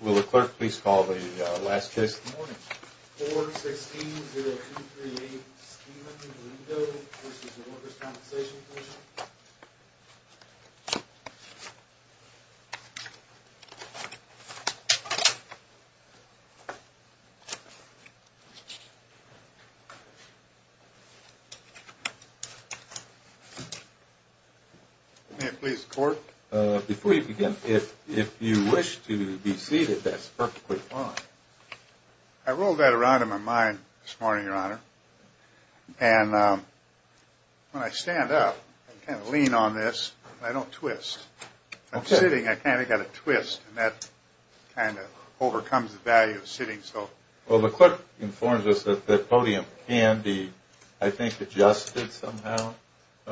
Will the clerk please call the last case of the morning? 4-16-0238 Schema v. Workers' Compensation Comm'n May it please the court? Before you begin, if you wish to be seated, that's perfectly fine. I rolled that around in my mind this morning, Your Honor. And when I stand up, I kind of lean on this, and I don't twist. If I'm sitting, I kind of got to twist, and that kind of overcomes the value of sitting. Well, the clerk informs us that the podium can be, I think, adjusted somehow, if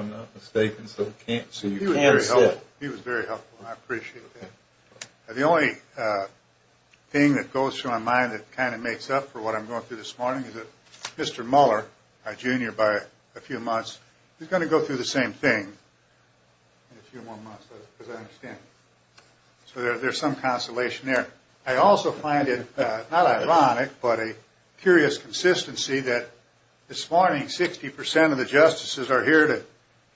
I'm not mistaken, so you can sit. He was very helpful. I appreciate that. The only thing that goes through my mind that kind of makes up for what I'm going through this morning is that Mr. Mueller, our junior, by a few months, he's going to go through the same thing in a few more months, as I understand. So there's some consolation there. I also find it not ironic, but a curious consistency, that this morning 60% of the justices are here to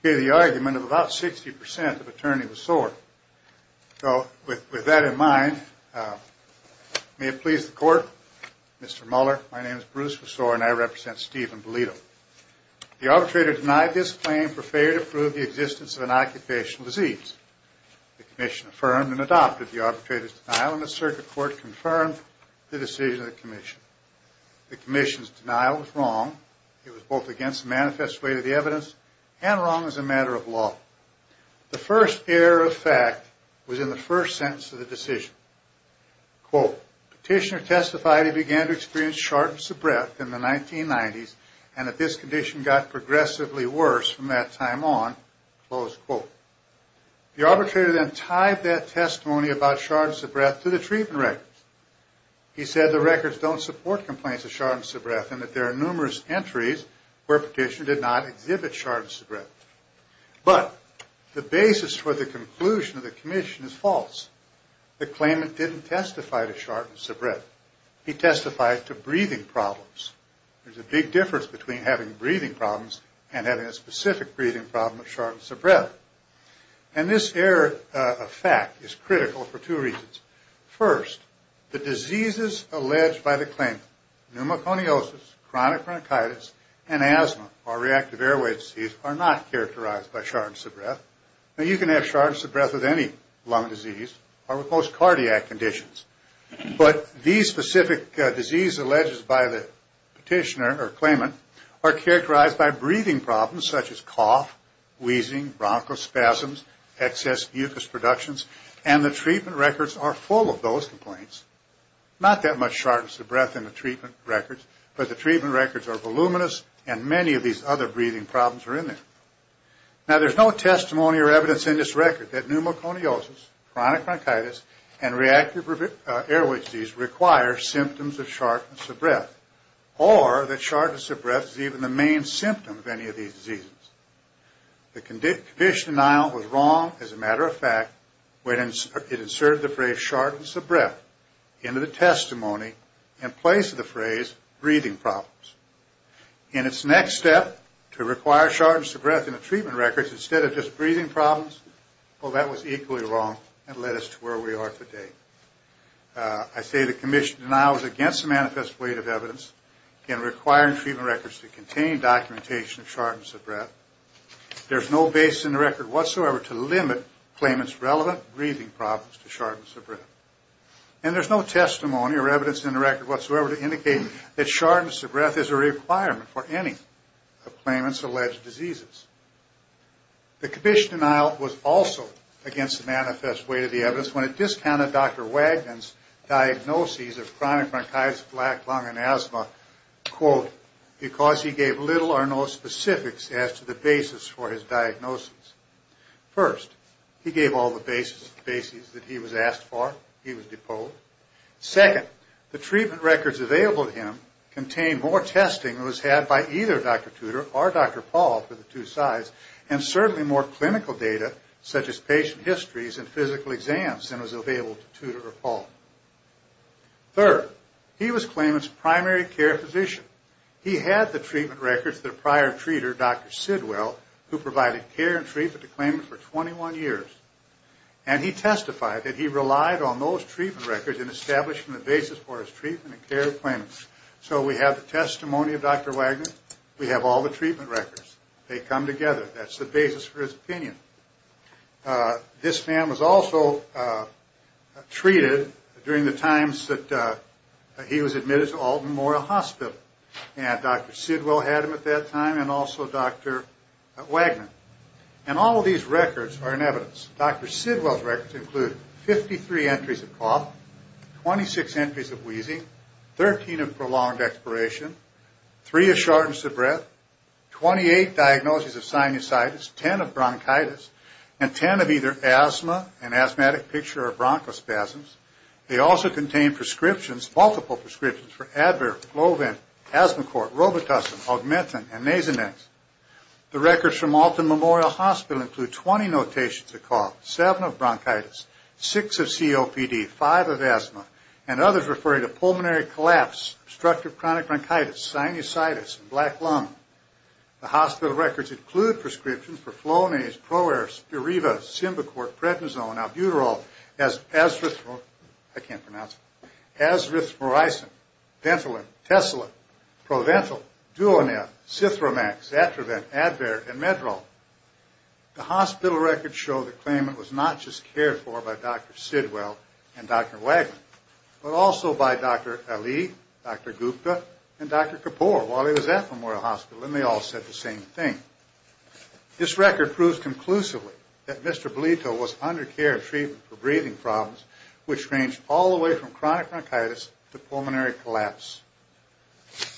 hear the argument of about 60% of attorney with sword. So with that in mind, may it please the Court, Mr. Mueller, my name is Bruce Messore, and I represent Stephen Belito. The arbitrator denied this claim for failure to prove the existence of an occupational disease. The commission affirmed and adopted the arbitrator's denial, and the circuit court confirmed the decision of the commission. The commission's denial was wrong. It was both against the manifest weight of the evidence and wrong as a matter of law. The first error of fact was in the first sentence of the decision. Quote, petitioner testified he began to experience shortness of breath in the 1990s, and that this condition got progressively worse from that time on. Close quote. The arbitrator then tied that testimony about shortness of breath to the treatment records. He said the records don't support complaints of shortness of breath and that there are numerous entries where petitioner did not exhibit shortness of breath. But the basis for the conclusion of the commission is false. The claimant didn't testify to shortness of breath. He testified to breathing problems. There's a big difference between having breathing problems and having a specific breathing problem of shortness of breath. And this error of fact is critical for two reasons. First, the diseases alleged by the claimant, pneumoconiosis, chronic bronchitis, and asthma, or reactive airway disease, are not characterized by shortness of breath. Now, you can have shortness of breath with any lung disease or with most cardiac conditions. But these specific diseases alleged by the petitioner or claimant are characterized by breathing problems such as cough, wheezing, bronchospasms, excess mucous productions, and the treatment records are full of those complaints. Not that much shortness of breath in the treatment records, but the treatment records are voluminous and many of these other breathing problems are in there. Now, there's no testimony or evidence in this record that pneumoconiosis, chronic bronchitis, and reactive airway disease require symptoms of shortness of breath. Or that shortness of breath is even the main symptom of any of these diseases. The condition denial was wrong, as a matter of fact, when it inserted the phrase shortness of breath into the testimony in place of the phrase breathing problems. In its next step, to require shortness of breath in the treatment records instead of just breathing problems, well, that was equally wrong and led us to where we are today. I say the condition denial was against the manifest weight of evidence in requiring treatment records to contain documentation of shortness of breath. There's no base in the record whatsoever to limit claimants' relevant breathing problems to shortness of breath. And there's no testimony or evidence in the record whatsoever to indicate that shortness of breath is a requirement for any of claimants' alleged diseases. The condition denial was also against the manifest weight of the evidence when it discounted Dr. Wagner's diagnoses of chronic bronchitis, black lung, and asthma, quote, because he gave little or no specifics as to the basis for his diagnosis. First, he gave all the basis that he was asked for. He was deposed. Second, the treatment records available to him contained more testing than was had by either Dr. Tudor or Dr. Paul for the two sides, and certainly more clinical data, such as patient histories and physical exams, than was available to Tudor or Paul. Third, he was claimant's primary care physician. He had the treatment records that a prior treater, Dr. Sidwell, who provided care and treatment to claimants for 21 years, and he testified that he relied on those treatment records in establishing the basis for his treatment and care of claimants. So we have the testimony of Dr. Wagner. We have all the treatment records. They come together. That's the basis for his opinion. This man was also treated during the times that he was admitted to Alton Memorial Hospital, and Dr. Sidwell had him at that time and also Dr. Wagner. And all of these records are in evidence. Dr. Sidwell's records include 53 entries of cough, 26 entries of wheezing, 13 of prolonged expiration, 3 of shortness of breath, 28 diagnoses of sinusitis, 10 of bronchitis, and 10 of either asthma, an asthmatic picture, or bronchospasms. They also contain prescriptions, multiple prescriptions, for advert, glovin, asthma cort, robitussin, augmentin, and nasonex. The records from Alton Memorial Hospital include 20 notations of cough, 7 of bronchitis, 6 of COPD, 5 of asthma, and others referring to pulmonary collapse, obstructive chronic bronchitis, sinusitis, and black lung. The hospital records include prescriptions for Flonase, Proer, Spiriva, Simbicort, Prednisone, Albuterol, Azithro, I can't pronounce it, Azithromycin, Ventolin, Tesla, Proventil, Duonef, Cithromax, Atravent, Advair, and Medrol. The hospital records show the claimant was not just cared for by Dr. Sidwell and Dr. Wagner, but also by Dr. Ali, Dr. Gupta, and Dr. Kapoor while he was at Memorial Hospital, and they all said the same thing. This record proves conclusively that Mr. Blito was under care and treatment for breathing problems, which ranged all the way from chronic bronchitis to pulmonary collapse.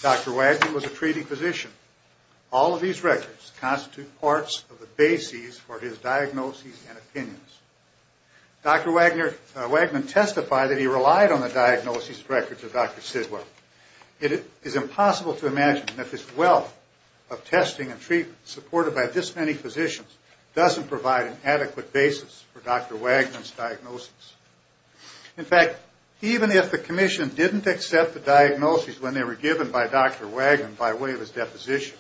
Dr. Wagner was a treating physician. All of these records constitute parts of the bases for his diagnoses and opinions. Dr. Wagner testified that he relied on the diagnoses and records of Dr. Sidwell. It is impossible to imagine that this wealth of testing and treatment supported by this many physicians doesn't provide an adequate basis for Dr. Wagner's diagnoses. In fact, even if the Commission didn't accept the diagnoses when they were given by Dr. Wagner by way of his deposition,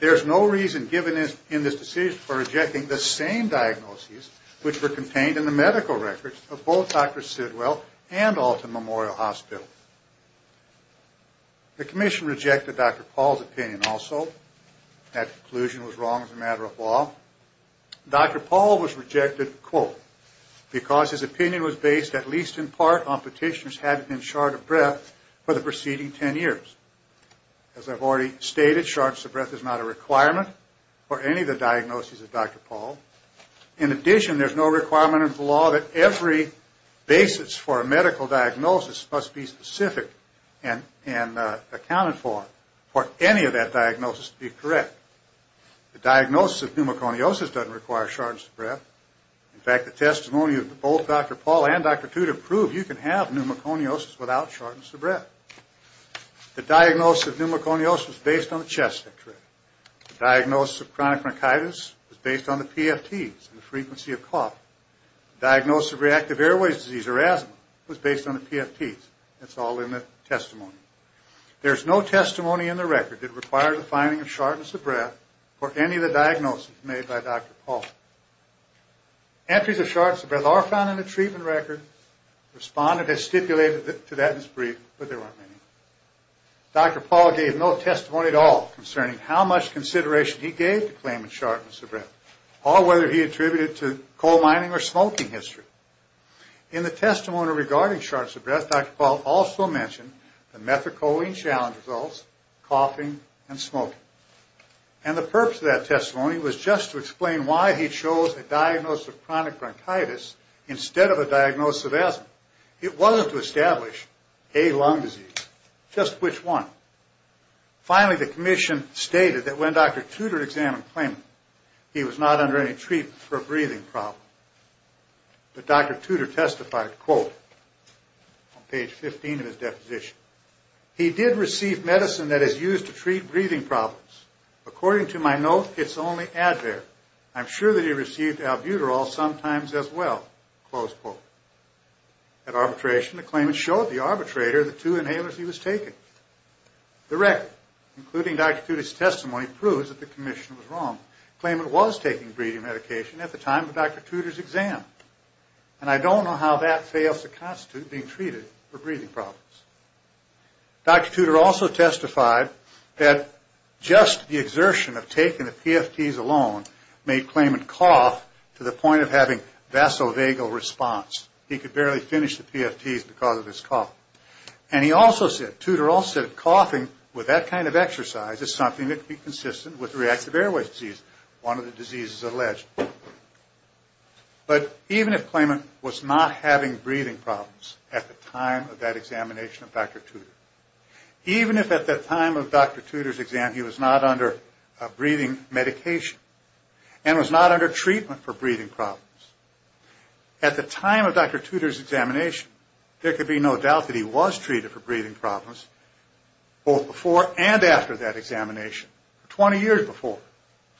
there's no reason given in this decision for rejecting the same diagnoses which were contained in the medical records of both Dr. Sidwell and Alton Memorial Hospital. The Commission rejected Dr. Paul's opinion also. That conclusion was wrong as a matter of law. Dr. Paul was rejected, quote, because his opinion was based at least in part on petitioners having been short of breath for the preceding 10 years. As I've already stated, shortness of breath is not a requirement for any of the diagnoses of Dr. Paul. In addition, there's no requirement under the law that every basis for a medical diagnosis must be specific and accounted for for any of that diagnosis to be correct. The diagnosis of pneumoconiosis doesn't require shortness of breath. In fact, the testimony of both Dr. Paul and Dr. Tudor prove you can have pneumoconiosis without shortness of breath. The diagnosis of pneumoconiosis is based on the chest x-ray. The diagnosis of chronic bronchitis is based on the PFTs and the frequency of cough. The diagnosis of reactive airways disease, or asthma, was based on the PFTs. It's all in the testimony. There's no testimony in the record that requires a finding of shortness of breath for any of the diagnoses made by Dr. Paul. Entries of shortness of breath are found in the treatment record. Respondent has stipulated to that in his brief, but there aren't many. Dr. Paul gave no testimony at all concerning how much consideration he gave to claiming shortness of breath, or whether he attributed it to coal mining or smoking history. In the testimony regarding shortness of breath, Dr. Paul also mentioned the methacholine challenge results, coughing, and smoking. And the purpose of that testimony was just to explain why he chose a diagnosis of chronic bronchitis instead of a diagnosis of asthma. It wasn't to establish a lung disease, just which one. Finally, the commission stated that when Dr. Tudor examined claimant, he was not under any treatment for a breathing problem. But Dr. Tudor testified, quote, on page 15 of his deposition, He did receive medicine that is used to treat breathing problems. According to my note, it's only Advair. I'm sure that he received albuterol sometimes as well. Close quote. At arbitration, the claimant showed the arbitrator the two inhalers he was taking. The record, including Dr. Tudor's testimony, proves that the commission was wrong. Claimant was taking breathing medication at the time of Dr. Tudor's exam. And I don't know how that fails to constitute being treated for breathing problems. Dr. Tudor also testified that just the exertion of taking the PFTs alone made claimant cough to the point of having vasovagal response. He could barely finish the PFTs because of his cough. And he also said, Tudor also said, coughing with that kind of exercise is something that could be consistent with reactive airway disease, one of the diseases alleged. But even if claimant was not having breathing problems at the time of that examination of Dr. Tudor, even if at the time of Dr. Tudor's exam he was not under breathing medication and was not under treatment for breathing problems, at the time of Dr. Tudor's examination, there could be no doubt that he was treated for breathing problems, both before and after that examination, 20 years before,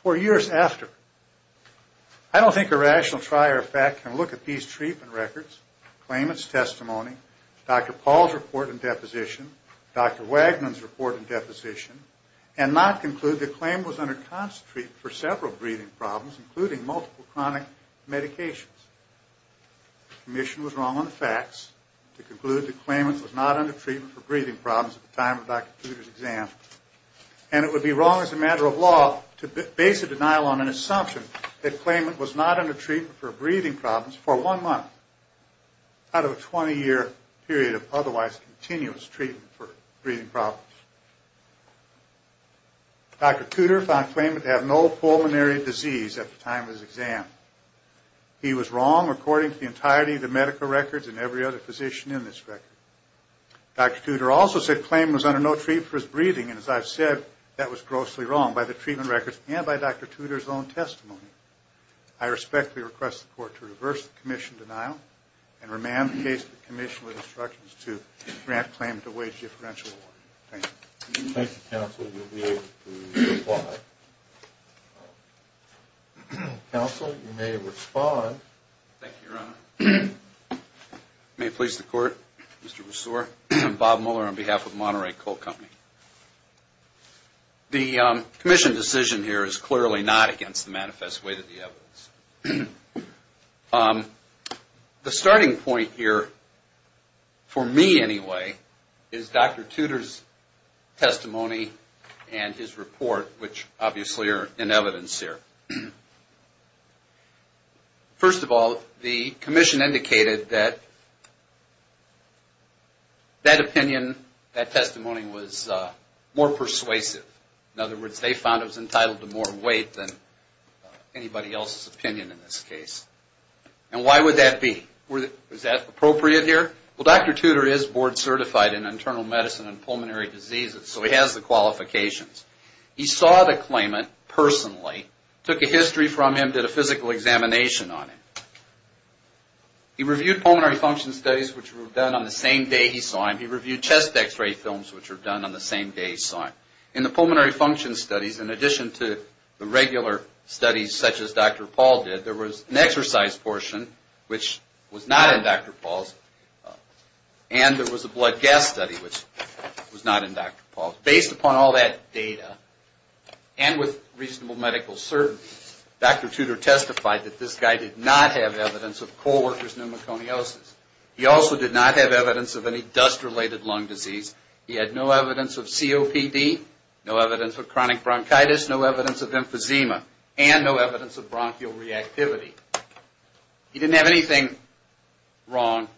four years after. I don't think a rational trier of fact can look at these treatment records, claimant's testimony, Dr. Paul's report and deposition, Dr. Wagnon's report and deposition, and not conclude that claimant was under constant treatment for several breathing problems, including multiple chronic medications. The commission was wrong on the facts to conclude that claimant was not under treatment for breathing problems at the time of Dr. Tudor's exam. And it would be wrong as a matter of law to base a denial on an assumption that claimant was not under treatment for breathing problems for one month out of a 20-year period of otherwise continuous treatment for breathing problems. Dr. Tudor found claimant to have no pulmonary disease at the time of his exam. He was wrong according to the entirety of the medical records and every other physician in this record. Dr. Tudor also said claimant was under no treatment for his breathing, and as I've said, that was grossly wrong by the treatment records and by Dr. Tudor's own testimony. I respectfully request the court to reverse the commission denial and remand the case to the commission with instructions to grant claimant a wage differential award. Thank you. If you'd like to counsel, you'll be able to reply. Counsel, you may respond. Thank you, Your Honor. May it please the court, Mr. Rousseau. I'm Bob Muller on behalf of Monterey Coal Company. The commission decision here is clearly not against the manifest way that the evidence. The starting point here, for me anyway, is Dr. Tudor's testimony and his report, which obviously are in evidence here. First of all, the commission indicated that that opinion, that testimony was more persuasive. In other words, they found it was entitled to more weight than anybody else's opinion in this case. And why would that be? Is that appropriate here? Well, Dr. Tudor is board certified in internal medicine and pulmonary diseases, so he has the qualifications. He saw the claimant personally, took a history from him, did a physical examination on him. He reviewed pulmonary function studies, which were done on the same day he saw him. He reviewed chest x-ray films, which were done on the same day he saw him. In the pulmonary function studies, in addition to the regular studies such as Dr. Paul did, there was an exercise portion, which was not in Dr. Paul's, and there was a blood gas study, which was not in Dr. Paul's. Based upon all that data, and with reasonable medical certainty, Dr. Tudor testified that this guy did not have evidence of coal worker's pneumoconiosis. He also did not have evidence of any dust-related lung disease. He had no evidence of COPD, no evidence of chronic bronchitis, no evidence of emphysema, and no evidence of bronchial reactivity. He didn't have anything wrong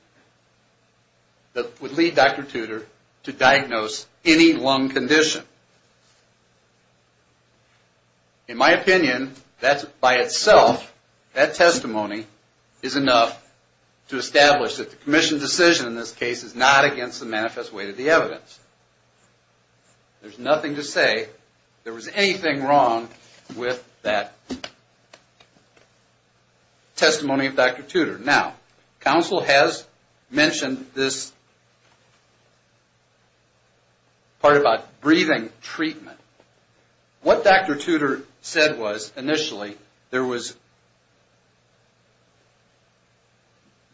that would lead Dr. Tudor to diagnose any lung condition. In my opinion, that by itself, that testimony is enough to establish that the Commission's decision in this case is not against the manifest weight of the evidence. There's nothing to say there was anything wrong with that testimony of Dr. Tudor. Now, counsel has mentioned this part about breathing treatment. What Dr. Tudor said was, initially, there was,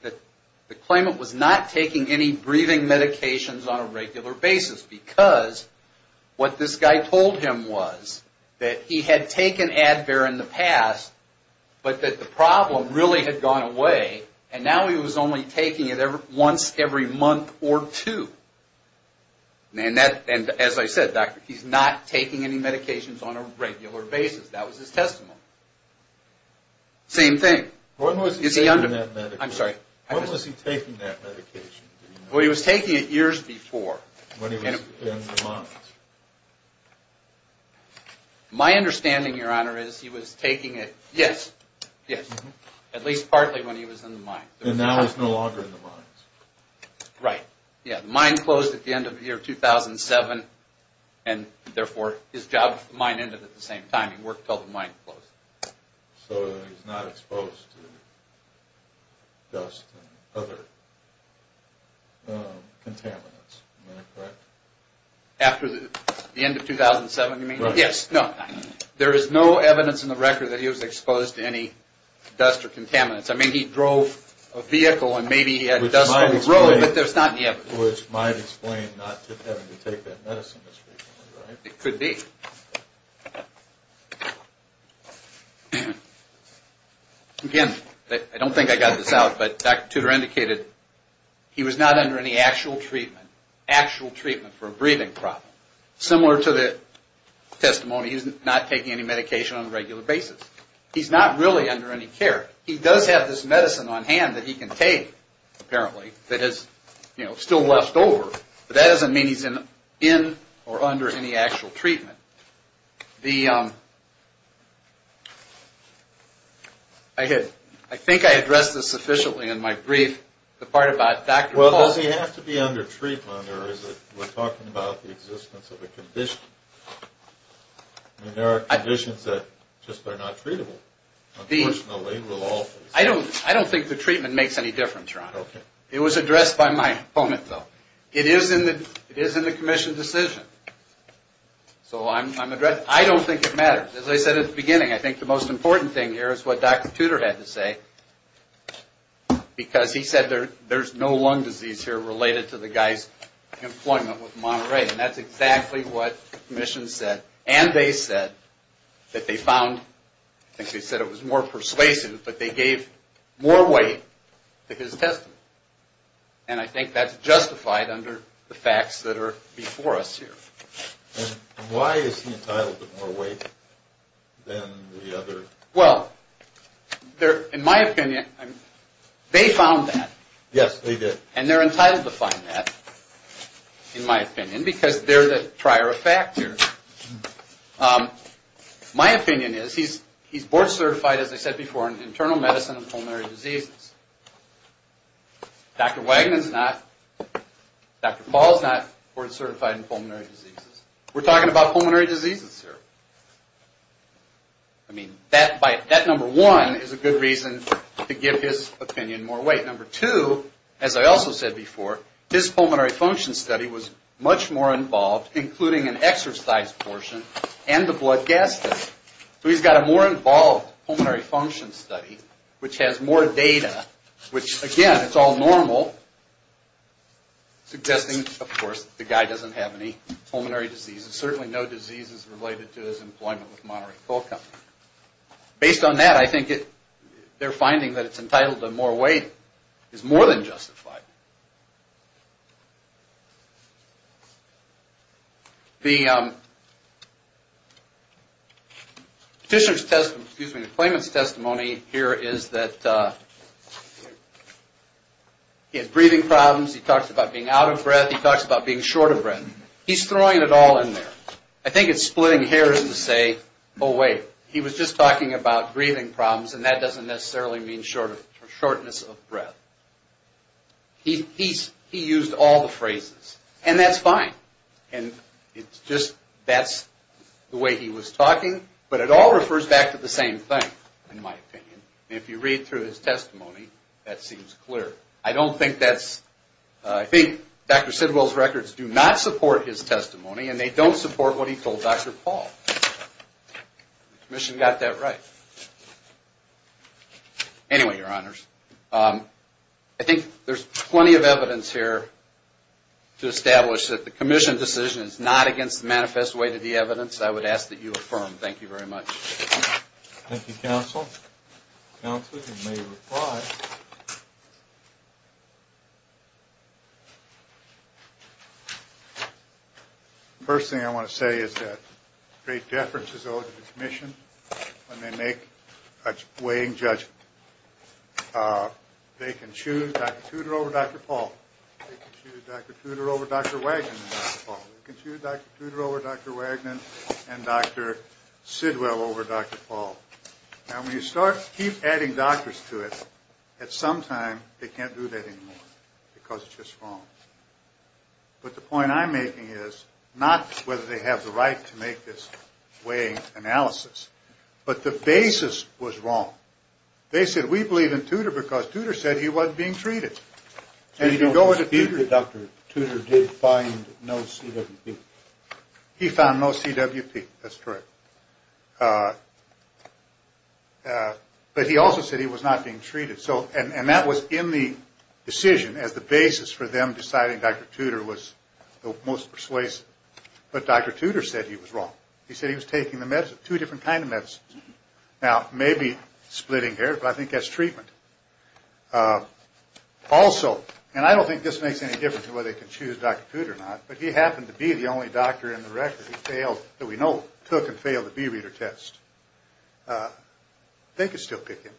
the claimant was not taking any breathing medications on a regular basis, because what this guy told him was that he had taken Advair in the past, but that the problem really had gone away, and now he was only taking it once every month or two. And as I said, he's not taking any medications on a regular basis. That was his testimony. Same thing. When was he taking that medication? Well, he was taking it years before. When he was in the mines. My understanding, Your Honor, is he was taking it, yes, yes, at least partly when he was in the mines. And now he's no longer in the mines. Right. Yeah, the mine closed at the end of the year 2007, and therefore his job at the mine ended at the same time. He worked until the mine closed. So he's not exposed to dust and other contaminants, am I correct? After the end of 2007, you mean? Right. Yes, no. There is no evidence in the record that he was exposed to any dust or contaminants. I mean, he drove a vehicle, and maybe he had dust on the road, but there's not any evidence. Which might explain not having to take that medicine as frequently, right? It could be. Again, I don't think I got this out, but Dr. Tudor indicated he was not under any actual treatment for a breathing problem. Similar to the testimony, he's not taking any medication on a regular basis. He's not really under any care. He does have this medicine on hand that he can take, apparently, that is still left over, but that doesn't mean he's in or under any actual treatment. I think I addressed this sufficiently in my brief, the part about Dr. Paulson. Well, does he have to be under treatment, or is it we're talking about the existence of a condition? I mean, there are conditions that just are not treatable. I don't think the treatment makes any difference, Ron. It was addressed by my opponent, though. It is in the commission's decision, so I'm addressing it. I don't think it matters. As I said at the beginning, I think the most important thing here is what Dr. Tudor had to say, because he said there's no lung disease here related to the guy's employment with Monterey, and that's exactly what the commission said, and they said, that they found, I think they said it was more persuasive, but they gave more weight to his testimony, and I think that's justified under the facts that are before us here. And why is he entitled to more weight than the other? Well, in my opinion, they found that. Yes, they did. And they're entitled to find that, in my opinion, because they're the prior effect here. My opinion is he's board certified, as I said before, in internal medicine and pulmonary diseases. Dr. Wagnon's not. Dr. Paul's not board certified in pulmonary diseases. We're talking about pulmonary diseases here. I mean, that number one is a good reason to give his opinion more weight. Number two, as I also said before, his pulmonary function study was much more involved, including an exercise portion and the blood gas study. So he's got a more involved pulmonary function study, which has more data, which, again, it's all normal, suggesting, of course, the guy doesn't have any pulmonary diseases, certainly no diseases related to his employment with Monterey Coal Company. Based on that, I think they're finding that it's entitled to more weight is more than justified. The petitioner's testimony, excuse me, the claimant's testimony here is that he has breathing problems. He talks about being out of breath. He talks about being short of breath. He's throwing it all in there. I think it's splitting hairs to say, oh, wait, he was just talking about breathing problems, and that doesn't necessarily mean shortness of breath. He used all the phrases, and that's fine. It's just that's the way he was talking, but it all refers back to the same thing, in my opinion. If you read through his testimony, that seems clear. I don't think that's – I think Dr. Sidwell's records do not support his testimony, and they don't support what he told Dr. Paul. The Commission got that right. Anyway, Your Honors, I think there's plenty of evidence here to establish that the Commission decision is not against the manifest way to the evidence. I would ask that you affirm. Thank you very much. Thank you, Counsel. Counsel, you may reply. First thing I want to say is that great deference is owed to the Commission when they make a weighing judgment. They can choose Dr. Tudor over Dr. Paul. They can choose Dr. Tudor over Dr. Wagnon and Dr. Paul. Now, when you start – keep adding doctors to it, at some time they can't do that anymore because it's just wrong. But the point I'm making is not whether they have the right to make this weighing analysis, but the basis was wrong. They said, we believe in Tudor because Tudor said he wasn't being treated. And if you go into Tudor – So you don't dispute that Dr. Tudor did find no CWP? He found no CWP. That's correct. But he also said he was not being treated. And that was in the decision as the basis for them deciding Dr. Tudor was the most persuasive. But Dr. Tudor said he was wrong. He said he was taking two different kinds of medicines. Now, maybe splitting hairs, but I think that's treatment. Also, and I don't think this makes any difference whether they can choose Dr. Tudor or not, but he happened to be the only doctor in the record that we know took and failed the B-reader test. They could still pick him.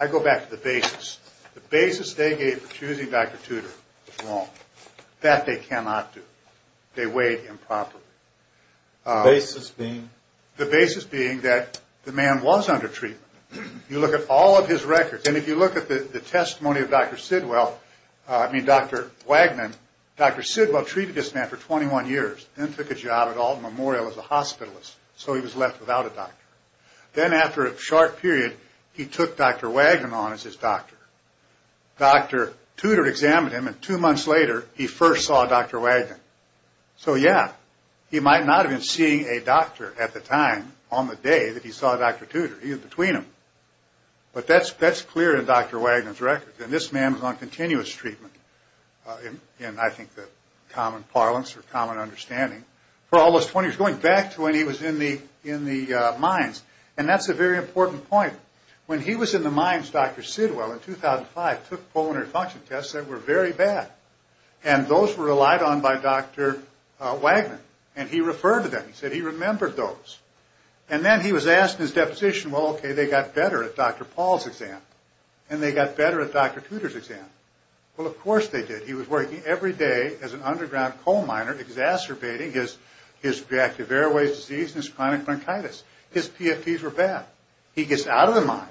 I go back to the basis. The basis they gave for choosing Dr. Tudor was wrong. That they cannot do. They weighed improperly. The basis being? The basis being that the man was under treatment. You look at all of his records, and if you look at the testimony of Dr. Sidwell – I mean Dr. Wagner – Dr. Sidwell treated this man for 21 years, then took a job at Alton Memorial as a hospitalist. So he was left without a doctor. Then after a short period, he took Dr. Wagner on as his doctor. Dr. Tudor examined him, and two months later, he first saw Dr. Wagner. So yeah, he might not have been seeing a doctor at the time on the day that he saw Dr. Tudor. He was between them. But that's clear in Dr. Wagner's records. And this man was on continuous treatment in, I think, the common parlance or common understanding for almost 20 years, going back to when he was in the mines. And that's a very important point. When he was in the mines, Dr. Sidwell, in 2005, took pulmonary function tests that were very bad. And those were relied on by Dr. Wagner. And he referred to them. He said he remembered those. And then he was asked in his deposition, well, okay, they got better at Dr. Paul's exam. And they got better at Dr. Tudor's exam. Well, of course they did. He was working every day as an underground coal miner exacerbating his reactive airways disease and his chronic bronchitis. His PFTs were bad. He gets out of the mine.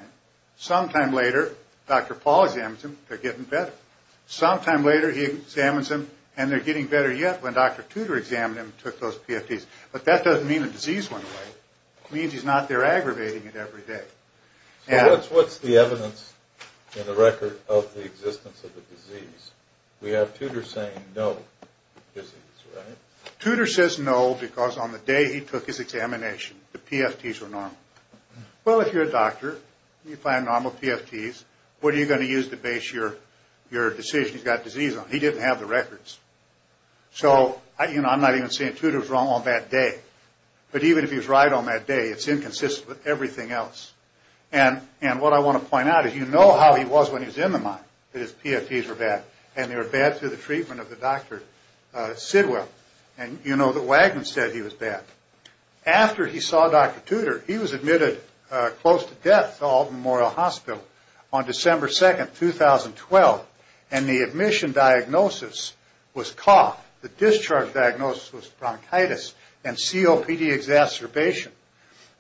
Sometime later, Dr. Paul examines him. They're getting better. Sometime later, he examines him, and they're getting better yet when Dr. Tudor examined him and took those PFTs. But that doesn't mean the disease went away. It means he's not there aggravating it every day. So what's the evidence in the record of the existence of the disease? We have Tudor saying no disease, right? Tudor says no because on the day he took his examination, the PFTs were normal. Well, if you're a doctor, you find normal PFTs, what are you going to use to base your decision he's got disease on? He didn't have the records. So, you know, I'm not even saying Tudor's wrong on that day. But even if he was right on that day, it's inconsistent with everything else. And what I want to point out is you know how he was when he was in the mine, that his PFTs were bad, and they were bad through the treatment of the Dr. Sidwell. And you know that Wagner said he was bad. After he saw Dr. Tudor, he was admitted close to death to Alton Memorial Hospital on December 2, 2012, and the admission diagnosis was cough. The discharge diagnosis was bronchitis and COPD exacerbation.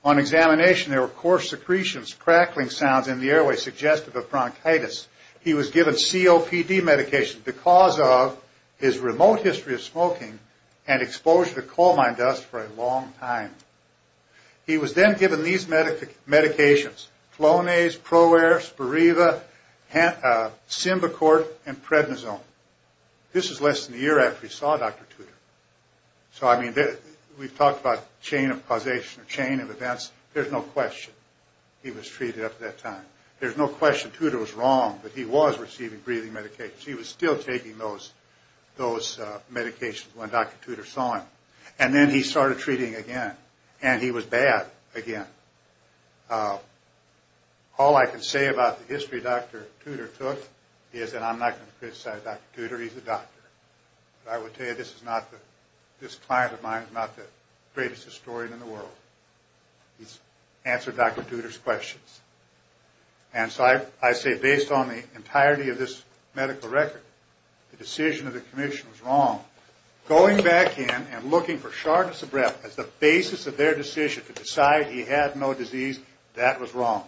On examination, there were coarse secretions, crackling sounds in the airway suggestive of bronchitis. He was given COPD medication because of his remote history of smoking and exposure to coal mine dust for a long time. He was then given these medications, Flonase, Pro-Air, Spiriva, Simbicort, and Prednisone. This was less than a year after he saw Dr. Tudor. So I mean we've talked about chain of causation or chain of events. There's no question he was treated up to that time. There's no question Tudor was wrong, but he was receiving breathing medications. He was still taking those medications when Dr. Tudor saw him. And then he started treating again, and he was bad again. All I can say about the history Dr. Tudor took is that I'm not going to criticize Dr. Tudor. He's a doctor. But I will tell you this client of mine is not the greatest historian in the world. He's answered Dr. Tudor's questions. And so I say based on the entirety of this medical record, the decision of the commission was wrong. Going back in and looking for sharpness of breath as the basis of their decision to decide he had no disease, that was wrong.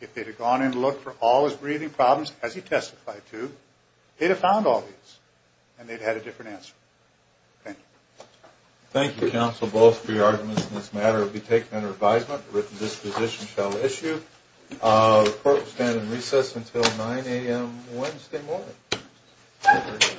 If they'd have gone in and looked for all his breathing problems, as he testified to, they'd have found all these. And they'd have had a different answer. Thank you. Thank you, counsel, both for your arguments in this matter. It will be taken under advisement that the written disposition shall issue. The court will stand in recess until 9 a.m. Wednesday morning. Thank you.